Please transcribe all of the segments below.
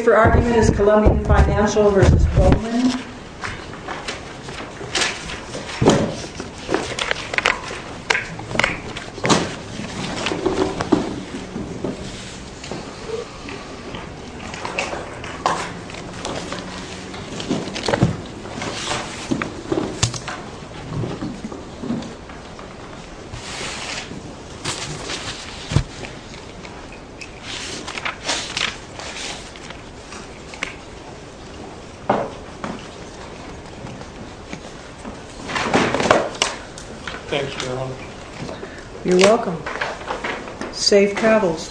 The candidate for argument is Columbian Financial v. Bowman Thank you, Your Honor. You're welcome. Save cattles.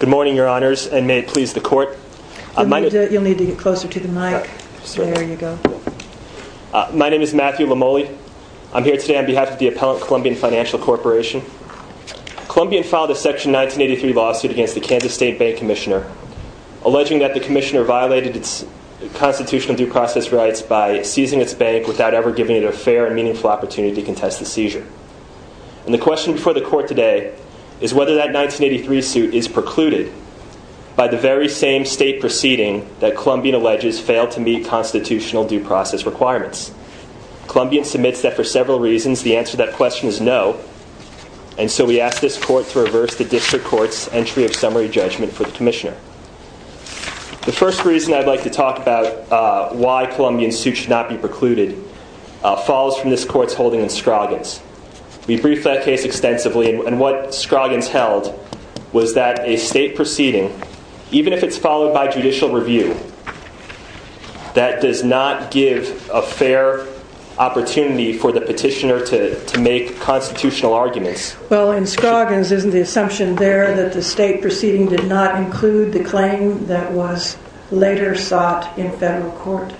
Good morning, Your Honors, and may it please the Court. You'll need to get closer to the mic. My name is Matthew Lamole. I'm here today on behalf of the appellant Columbian Financial Corporation. Columbian filed a Section 1983 lawsuit against the Kansas State Bank Commissioner, alleging that the Commissioner violated its constitutional due process rights by seizing its bank without ever giving it a fair and meaningful opportunity to contest the seizure. And the question before the Court today is whether that 1983 suit is precluded by the very same state proceeding that Columbian alleges failed to meet constitutional due process requirements. Columbian submits that for several reasons, the answer to that question is no, and so we ask this Court to reverse the District Court's entry of summary judgment for the Commissioner. The first reason I'd like to talk about why Columbian's suit should not be precluded falls from this Court's holding in Scroggins. We briefed that case extensively, and what Scroggins held was that a state proceeding, even if it's followed by judicial review, that does not give a fair opportunity for the petitioner to make constitutional arguments. Well, in Scroggins, isn't the assumption there that the state proceeding did not include the claim that was later sought in federal court?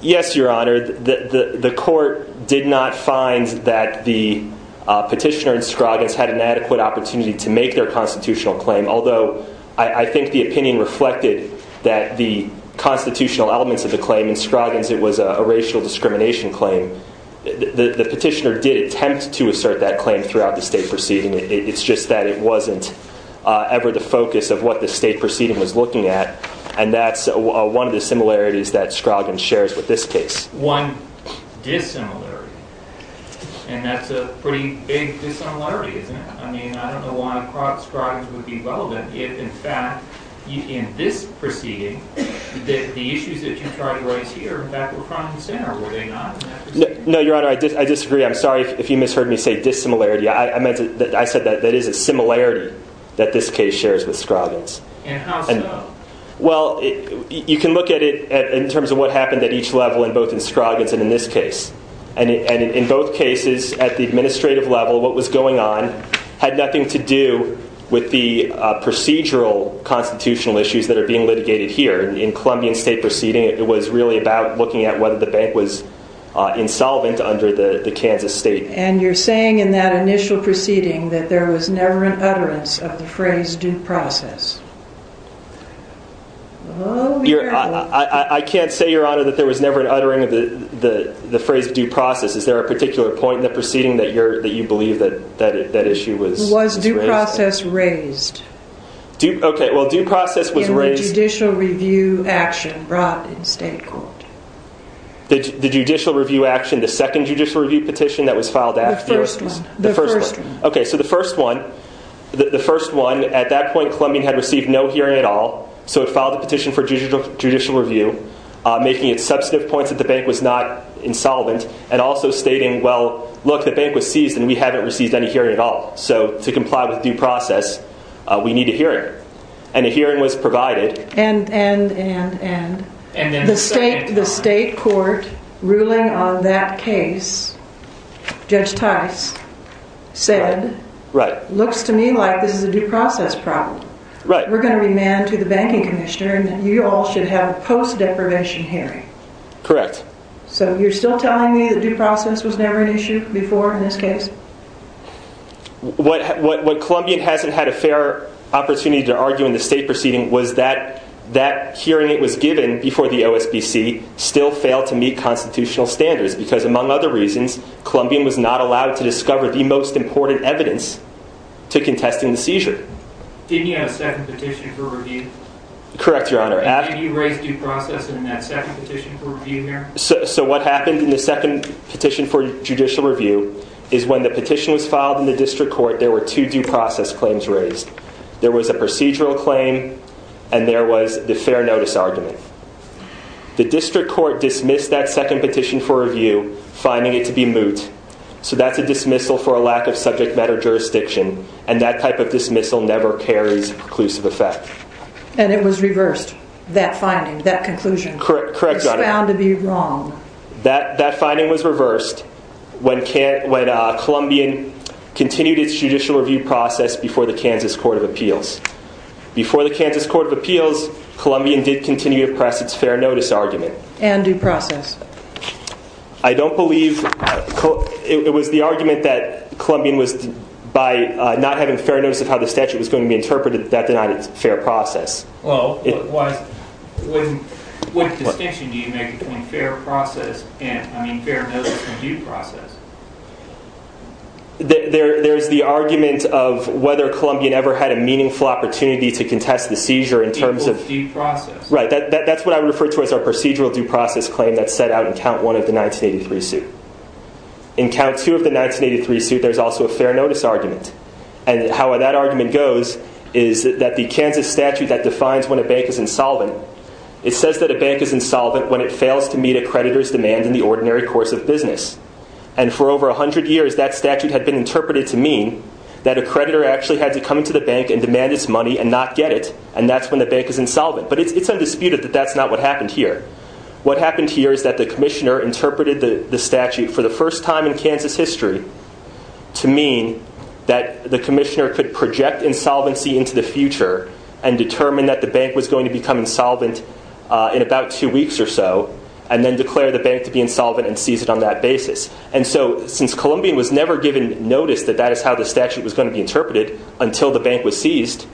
Yes, Your Honor, the Court did not find that the petitioner in Scroggins had an adequate opportunity to make their constitutional claim, although I think the opinion reflected that the constitutional elements of the claim in Scroggins, it was a racial discrimination claim. The petitioner did attempt to assert that claim throughout the state proceeding. It's just that it wasn't ever the focus of what the state proceeding was looking at, and that's one of the similarities that Scroggins shares with this case. One dissimilarity, and that's a pretty big dissimilarity, isn't it? I mean, I don't know why Scroggins would be relevant if, in fact, in this proceeding, the issues that you tried to raise here, in fact, were front and center, were they not? No, Your Honor, I disagree. I'm sorry if you misheard me say dissimilarity. I said that that is a similarity that this case shares with Scroggins. And how so? Well, you can look at it in terms of what happened at each level, both in Scroggins and in this case. And in both cases, at the administrative level, what was going on had nothing to do with the procedural constitutional issues that are being litigated here. In the Columbian State Proceeding, it was really about looking at whether the bank was insolvent under the Kansas State. And you're saying in that initial proceeding that there was never an utterance of the phrase due process. I can't say, Your Honor, that there was never an uttering of the phrase due process. Is there a particular point in the proceeding that you believe that issue was raised? Was due process raised? Okay, well, due process was raised... In the judicial review action brought in state court. The judicial review action, the second judicial review petition that was filed after... The first one. The first one. Okay, so the first one, at that point, Columbian had received no hearing at all, so it filed a petition for judicial review, making it substantive points that the bank was not insolvent and also stating, well, look, the bank was seized and we haven't received any hearing at all, so to comply with due process, we need a hearing. And a hearing was provided... And, and, and, and... The state court ruling on that case, Judge Tice said, looks to me like this is a due process problem. We're going to remand to the banking commissioner and you all should have a post-deprivation hearing. Correct. So you're still telling me that due process was never an issue before in this case? What Columbian hasn't had a fair opportunity to argue in the state proceeding was that that hearing that was given before the OSBC still failed to meet constitutional standards because, among other reasons, Columbian was not allowed to discover the most important evidence to contesting the seizure. Didn't you have a second petition for review? Correct, Your Honor. Did you raise due process in that second petition for review here? So what happened in the second petition for judicial review is when the petition was filed in the district court, there were two due process claims raised. There was a procedural claim and there was the fair notice argument. The district court dismissed that second petition for review, finding it to be moot. So that's a dismissal for a lack of subject matter jurisdiction, and that type of dismissal never carries conclusive effect. And it was reversed, that finding, that conclusion. Correct, Your Honor. It was found to be wrong. That finding was reversed when Columbian continued its judicial review process before the Kansas Court of Appeals. Before the Kansas Court of Appeals, Columbian did continue to press its fair notice argument. And due process. I don't believe it was the argument that Columbian was, by not having fair notice of how the statute was going to be interpreted, that denied it fair process. Well, what distinction do you make between fair notice and due process? There's the argument of whether Columbian ever had a meaningful opportunity to contest the seizure in terms of due process. Right, that's what I refer to as our procedural due process claim that's set out in count one of the 1983 suit. In count two of the 1983 suit, there's also a fair notice argument. And how that argument goes is that the Kansas statute that defines when a bank is insolvent, it says that a bank is insolvent when it fails to meet a creditor's demand in the ordinary course of business. And for over 100 years, that statute had been interpreted to mean that a creditor actually had to come to the bank and demand its money and not get it, and that's when the bank is insolvent. But it's undisputed that that's not what happened here. What happened here is that the commissioner interpreted the statute for the first time in Kansas history to mean that the commissioner could project insolvency into the future and determine that the bank was going to become insolvent in about two weeks or so, and then declare the bank to be insolvent and seize it on that basis. And so since Columbian was never given notice that that is how the statute was going to be interpreted until the bank was seized,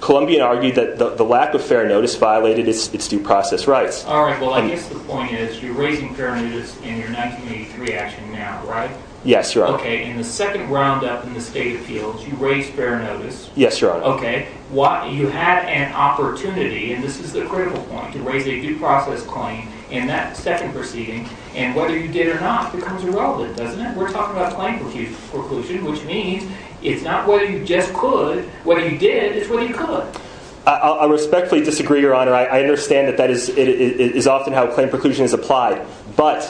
Columbian argued that the lack of fair notice violated its due process rights. All right, well, I guess the point is you're raising fair notice in your 1983 action now, right? Yes, Your Honor. Okay, in the second round-up in the state appeals, you raised fair notice. Yes, Your Honor. Okay, you had an opportunity, and this is the critical point, to raise a due process claim in that second proceeding, and whether you did or not becomes irrelevant, doesn't it? We're talking about a claim for collusion, which means it's not whether you just could, what you did is what you could. I respectfully disagree, Your Honor. I understand that that is often how a claim for collusion is applied. But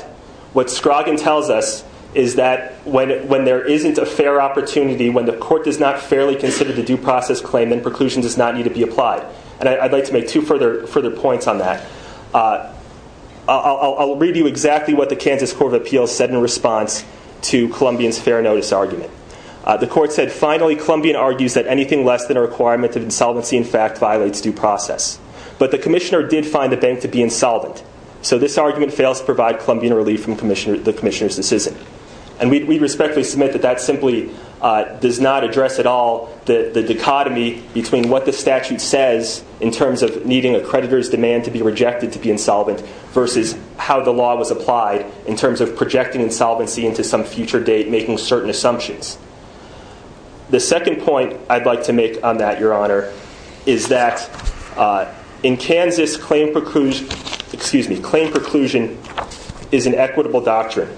what Scroggin tells us is that when there isn't a fair opportunity, when the court does not fairly consider the due process claim, then preclusion does not need to be applied. And I'd like to make two further points on that. I'll read you exactly what the Kansas Court of Appeals said in response to Columbian's fair notice argument. The court said, Finally, Columbian argues that anything less than a requirement of insolvency, in fact, violates due process. But the commissioner did find the bank to be insolvent, so this argument fails to provide Columbian relief from the commissioner's decision. And we respectfully submit that that simply does not address at all the dichotomy between what the statute says in terms of needing a creditor's demand to be rejected to be insolvent versus how the law was applied in terms of projecting insolvency into some future date, making certain assumptions. The second point I'd like to make on that, Your Honor, is that in Kansas, claim preclusion is an equitable doctrine.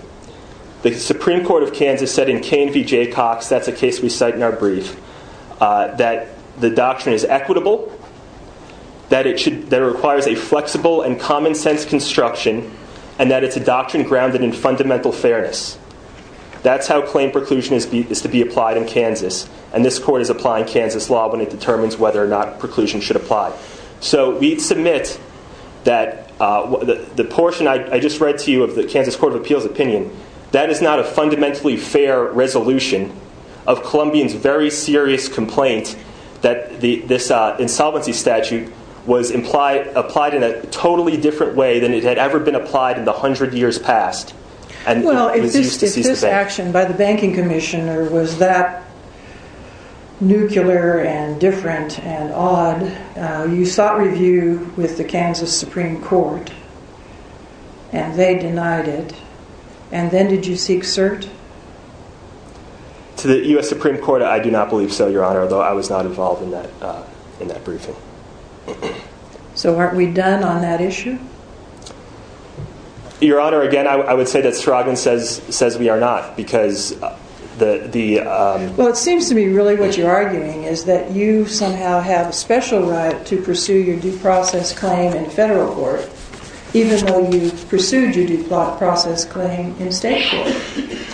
The Supreme Court of Kansas said in K&V J. Cox, that's a case we cite in our brief, that the doctrine is equitable, that it requires a flexible and common-sense construction, and that it's a doctrine grounded in fundamental fairness. That's how claim preclusion is to be applied in Kansas. And this court is applying Kansas law when it determines whether or not preclusion should apply. So we submit that the portion I just read to you of the Kansas Court of Appeals opinion, that is not a fundamentally fair resolution of Columbian's very serious complaint that this insolvency statute was applied in a totally different way than it had ever been applied in the hundred years past. Well, if this action by the banking commissioner was that nuclear and different and odd, you sought review with the Kansas Supreme Court, and they denied it. And then did you seek cert? To the U.S. Supreme Court, I do not believe so, Your Honor, although I was not involved in that briefing. So aren't we done on that issue? Your Honor, again, I would say that Stroggin says we are not, because the... Well, it seems to me really what you're arguing is that you somehow have a special right to pursue your due process claim in federal court, even though you pursued your due process claim in state court.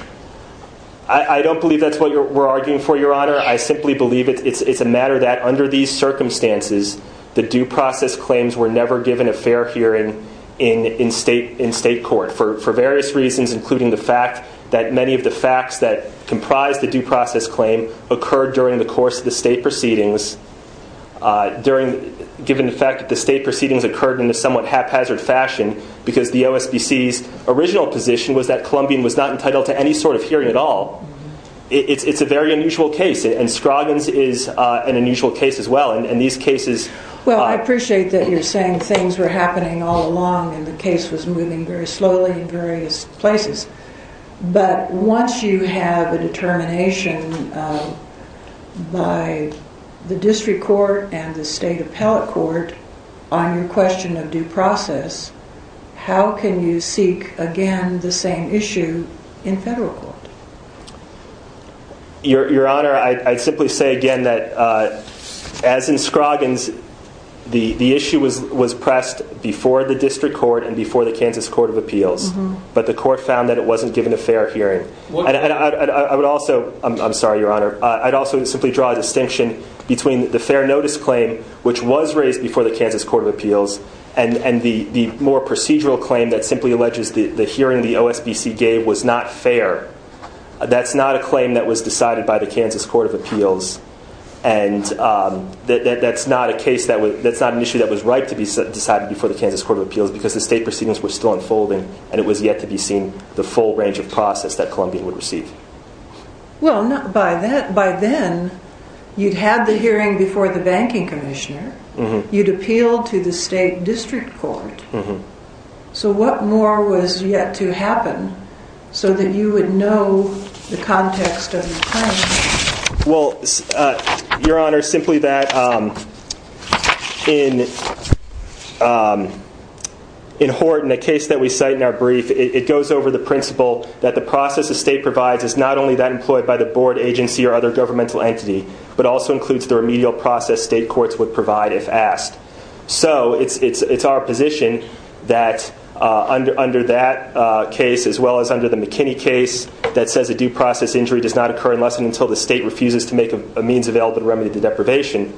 I don't believe that's what we're arguing for, Your Honor. I simply believe it's a matter that, under these circumstances, the due process claims were never given a fair hearing in state court for various reasons, including the fact that many of the facts that comprise the due process claim occurred during the course of the state proceedings, given the fact that the state proceedings occurred in a somewhat haphazard fashion, because the OSBC's original position was that Columbian was not entitled to any sort of hearing at all. It's a very unusual case, and Stroggin's is an unusual case as well, and these cases... Well, I appreciate that you're saying things were happening all along and the case was moving very slowly in various places, but once you have a determination by the district court and the state appellate court on your question of due process, how can you seek, again, the same issue in federal court? Your Honor, I'd simply say again that, as in Stroggin's, the issue was pressed before the district court and before the Kansas Court of Appeals, but the court found that it wasn't given a fair hearing. I would also... I'm sorry, Your Honor. I'd also simply draw a distinction between the fair notice claim, which was raised before the Kansas Court of Appeals, and the more procedural claim that simply alleges the hearing the OSBC gave was not fair. That's not a claim that was decided by the Kansas Court of Appeals, and that's not an issue that was right to be decided before the Kansas Court of Appeals because the state proceedings were still unfolding and it was yet to be seen the full range of process that Columbian would receive. Well, by then, you'd had the hearing before the banking commissioner. You'd appealed to the state district court. So what more was yet to happen so that you would know the context of the claim? Well, Your Honor, simply that in Hort, in the case that we cite in our brief, it goes over the principle that the process the state provides is not only that employed by the board agency or other governmental entity, but also includes the remedial process state courts would provide if asked. So it's our position that under that case, as well as under the McKinney case that says a due process injury does not occur unless and until the state refuses to make a means available to remedy the deprivation,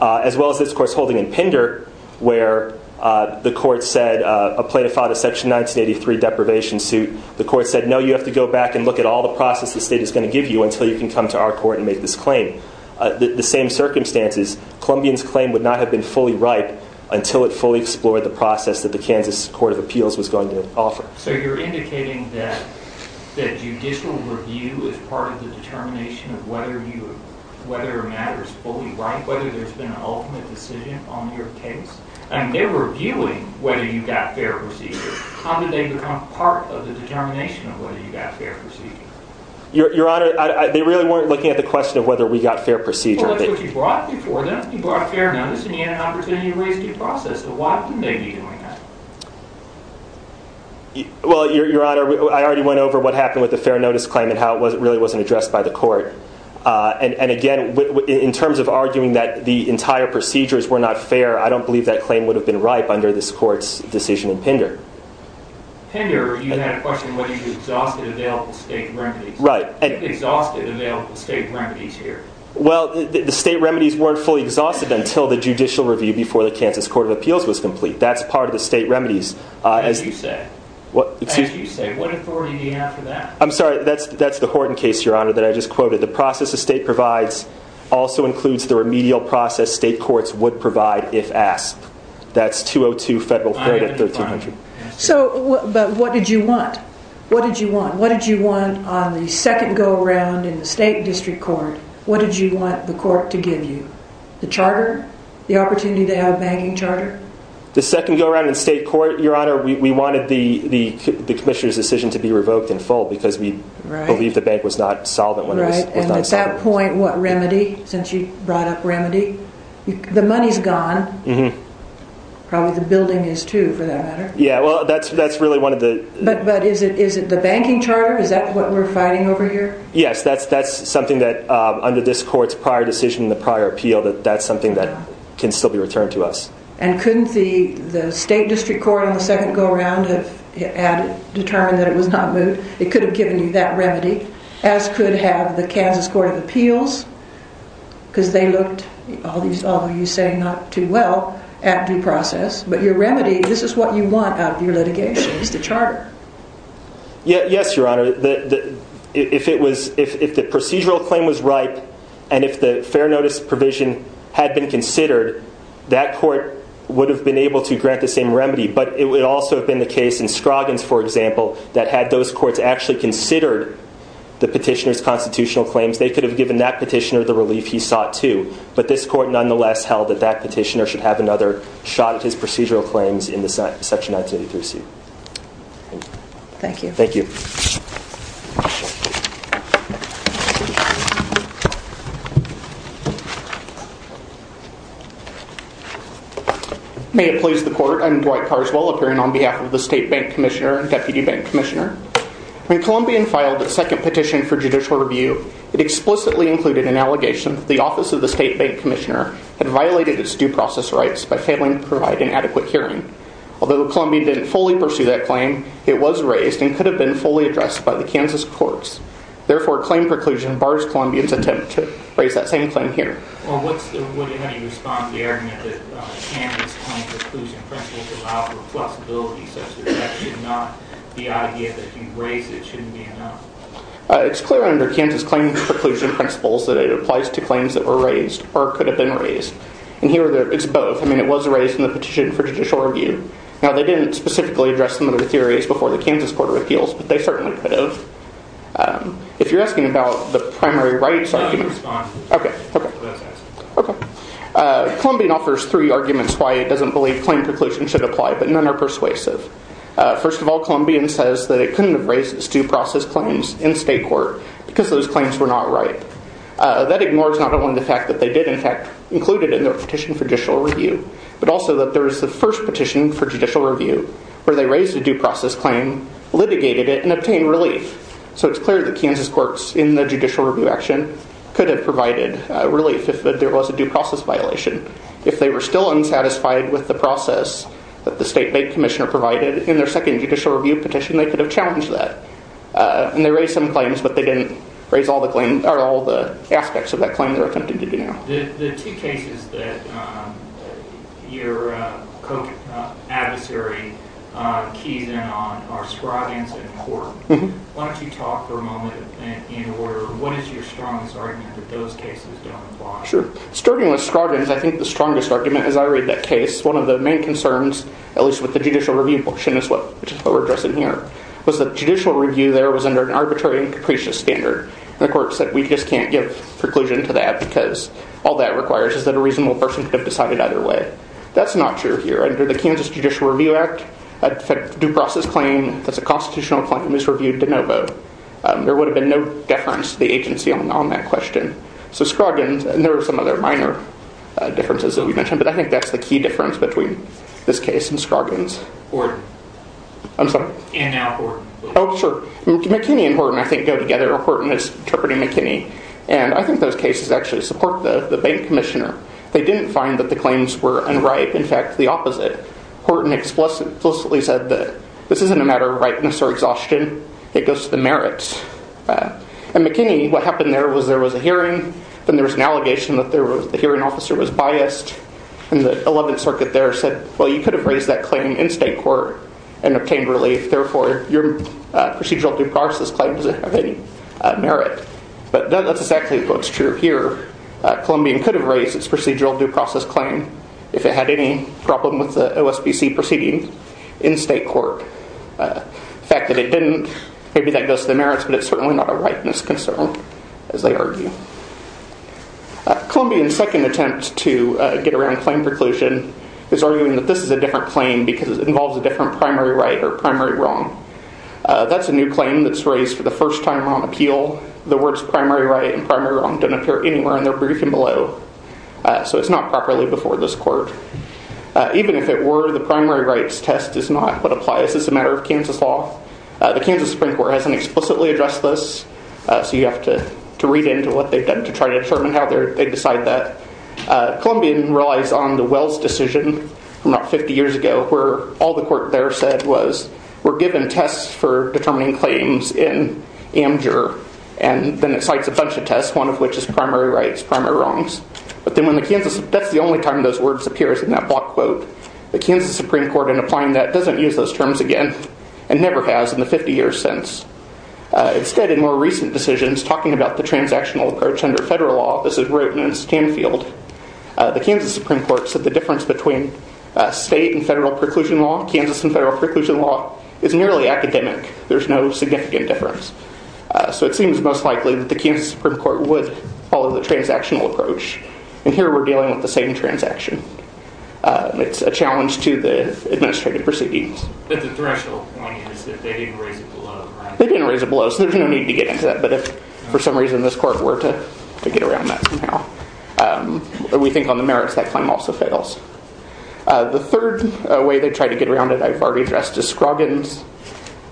as well as this, of course, holding in Pender where the court said a plaintiff filed a section 1983 deprivation suit. The court said, no, you have to go back and look at all the process the state is going to give you until you can come to our court and make this claim. The same circumstances, Columbians' claim would not have been fully ripe until it fully explored the process that the Kansas Court of Appeals was going to offer. So you're indicating that judicial review is part of the determination of whether a matter is fully ripe, whether there's been an ultimate decision on your case? And they're reviewing whether you got fair procedure. How did they become part of the determination of whether you got fair procedure? Your Honor, they really weren't looking at the question of whether we got fair procedure. Well, that's what you brought before them. You brought fair notice, and you had an opportunity to raise due process. So why couldn't they be doing that? Well, Your Honor, I already went over what happened with the fair notice claim and how it really wasn't addressed by the court. And again, in terms of arguing that the entire procedures were not fair, I don't believe that claim would have been ripe under this court's decision in Pender. Pender, you had a question whether you exhausted available state remedies. Right. You exhausted available state remedies here. Well, the state remedies weren't fully exhausted until the judicial review before the Kansas Court of Appeals was complete. That's part of the state remedies. What did you say? Excuse me? What authority do you have for that? I'm sorry, that's the Horton case, Your Honor, that I just quoted. The process the state provides also includes the remedial process state courts would provide if asked. That's 202 Federal Code at 1300. So, but what did you want? What did you want? What did you want on the second go-around in the state district court? What did you want the court to give you? The charter? The opportunity to have a banking charter? The second go-around in state court, Your Honor, we wanted the commissioner's decision to be revoked in full because we believe the bank was not solvent when it was not solvent. And at that point, what, remedy? Since you brought up remedy? The money's gone. Mm-hmm. Probably the building is, too, for that matter. Yeah, well, that's really one of the... But is it the banking charter? Is that what we're fighting over here? Yes, that's something that under this court's prior decision, the prior appeal, that that's something that can still be returned to us. And couldn't the state district court on the second go-around have determined that it was not moved? It could have given you that remedy, as could have the Kansas Court of Appeals because they looked, although you say not too well, at due process. But your remedy, this is what you want out of your litigation, is the charter. Yes, Your Honor. If the procedural claim was ripe and if the fair notice provision had been considered, that court would have been able to grant the same remedy. But it would also have been the case in Scroggins, for example, that had those courts actually considered the petitioner's constitutional claims, they could have given that petitioner the relief he sought, too. But this court, nonetheless, held that that petitioner should have another shot at his procedural claims in the Section 1983C. Thank you. Thank you. May it please the court, I'm Dwight Carswell, appearing on behalf of the State Bank Commissioner and Deputy Bank Commissioner. When Columbian filed its second petition for judicial review, it explicitly included an allegation that the Office of the State Bank Commissioner had violated its due process rights by failing to provide an adequate hearing. Although Columbian didn't fully pursue that claim, it was raised and could have been fully addressed by the Kansas courts. Therefore, claim preclusion bars Columbian's attempt to raise that same claim here. It's clear under Kansas claim preclusion principles that it applies to claims that were raised or could have been raised. And here it's both. I mean, it was raised in the petition for judicial review. Now, they didn't specifically address some of the theories before the Kansas Court of Appeals, but they certainly could have. If you're asking about the primary rights arguments. OK. OK. Columbian offers three arguments why it doesn't believe claim preclusion should apply, but none are persuasive. First of all, Columbian says that it couldn't have raised its due process claims in state court because those claims were not right. That ignores not only the fact that they did, in fact, include it in their petition for judicial review, but also that there was the first petition for judicial review where they raised a due process claim, litigated it, and obtained relief. So it's clear that Kansas courts in the judicial review action could have provided relief if there was a due process violation. If they were still unsatisfied with the process that the state commissioner provided in their second judicial review petition, they could have challenged that. And they raised some claims, but they didn't raise all the aspects of that claim they're attempting to do now. Your co-adversary keys in on are Scroggins and Court. Why don't you talk for a moment in order of what is your strongest argument that those cases don't apply? Sure. Starting with Scroggins, I think the strongest argument as I read that case, one of the main concerns, at least with the judicial review portion, which is what we're addressing here, was that judicial review there was under an arbitrary and capricious standard. And the court said, we just can't give preclusion to that because all that requires is that a reasonable person could have decided either way. That's not true here. Under the Kansas Judicial Review Act, a due process claim that's a constitutional claim is reviewed de novo. There would have been no deference to the agency on that question. So Scroggins, and there are some other minor differences that we mentioned, but I think that's the key difference between this case and Scroggins. Horton. I'm sorry? And now Horton. Oh, sure. McKinney and Horton, I think, go together. Horton is interpreting McKinney. And I think those cases actually support the bank commissioner. They didn't find that the claims were unripe. In fact, the opposite. Horton explicitly said that this isn't a matter of ripeness or exhaustion. It goes to the merits. And McKinney, what happened there was there was a hearing. Then there was an allegation that the hearing officer was biased. And the 11th Circuit there said, well, you could have raised that claim in state court and obtained relief. Therefore, your procedural due process claim doesn't have any merit. But that's exactly what's true here. Columbian could have raised its procedural due process claim if it had any problem with the OSBC proceeding in state court. The fact that it didn't, maybe that goes to the merits. But it's certainly not a ripeness concern, as they argue. Columbian's second attempt to get around claim preclusion is arguing that this is a different claim because it involves a different primary right or primary wrong. That's a new claim that's raised for the first time on appeal. The words primary right and primary wrong don't appear anywhere in their briefing below. So it's not properly before this court. Even if it were, the primary rights test is not what applies. It's a matter of Kansas law. The Kansas Supreme Court hasn't explicitly addressed this. So you have to read into what they've done to try to determine how they decide that. Columbian relies on the Wells decision from about 50 years ago, where all the court there said was we're given tests for determining claims in Amjur. And then it cites a bunch of tests, one of which is primary rights, primary wrongs. But then when the Kansas, that's the only time those words appears in that block quote. The Kansas Supreme Court, in applying that, doesn't use those terms again, and never has in the 50 years since. Instead, in more recent decisions, talking about the transactional approach under federal law, this is written in Stanfield. The Kansas Supreme Court said the difference between state and federal preclusion law, Kansas and federal preclusion law, is nearly academic. There's no significant difference. So it seems most likely that the Kansas Supreme Court would follow the transactional approach. And here we're dealing with the same transaction. It's a challenge to the administrative proceedings. But the threshold point is that they didn't raise it below. They didn't raise it below, so there's no need to get into that. But if, for some reason, this court were to get around that somehow, we think on the merits that claim also fails. The third way they try to get around it, I've already addressed, is Scroggins.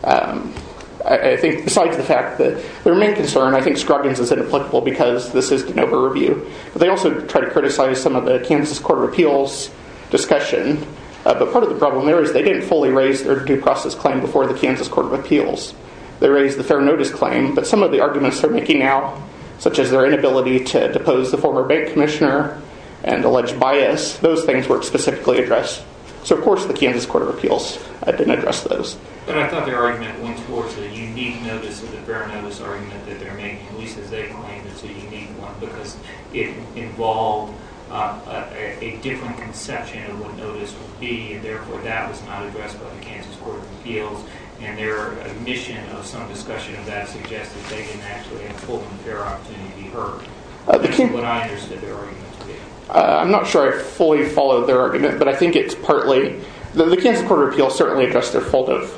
I think, besides the fact that their main concern, I think Scroggins is inapplicable, because this is de novo review. But they also try to criticize some of the Kansas Court of Appeals discussion. But part of the problem there is they didn't fully raise their due process claim before the Kansas Court of Appeals. They raised the fair notice claim, but some of the arguments they're making now, such as their inability to depose the former bank commissioner and alleged bias, those things weren't specifically addressed. So, of course, the Kansas Court of Appeals didn't address those. But I thought their argument went towards a unique notice of the fair notice argument that they're making, at least as they claim it's a unique one, because it involved a different conception of what notice would be. And therefore, that was not addressed by the Kansas Court of Appeals. And their admission of some discussion of that suggested they didn't actually have a full and fair opportunity to be heard. That's what I understood their argument to be. I'm not sure I fully followed their argument, but I think it's partly. The Kansas Court of Appeals certainly addressed their fault of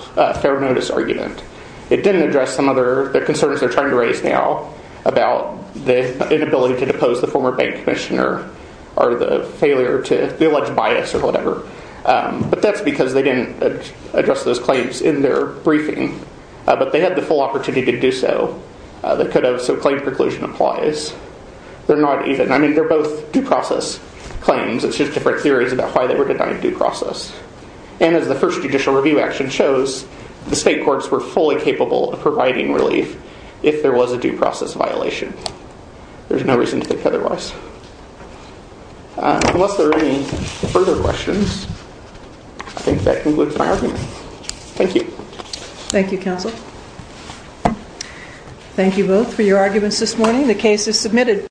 fair notice argument. It didn't address some other concerns they're trying to raise now about the inability to depose the former bank commissioner or the alleged bias or whatever. But that's because they didn't address those claims in their briefing. But they had the full opportunity to do so. They could have. So claim preclusion applies. They're not even. I mean, they're both due process claims. It's just different theories about why they were denied due process. And as the first judicial review action shows, the state courts were fully capable of providing relief if there was a due process violation. There's no reason to think otherwise. Unless there are any further questions, I think that concludes my argument. Thank you. Thank you, counsel. Thank you both for your arguments this morning. The case is submitted.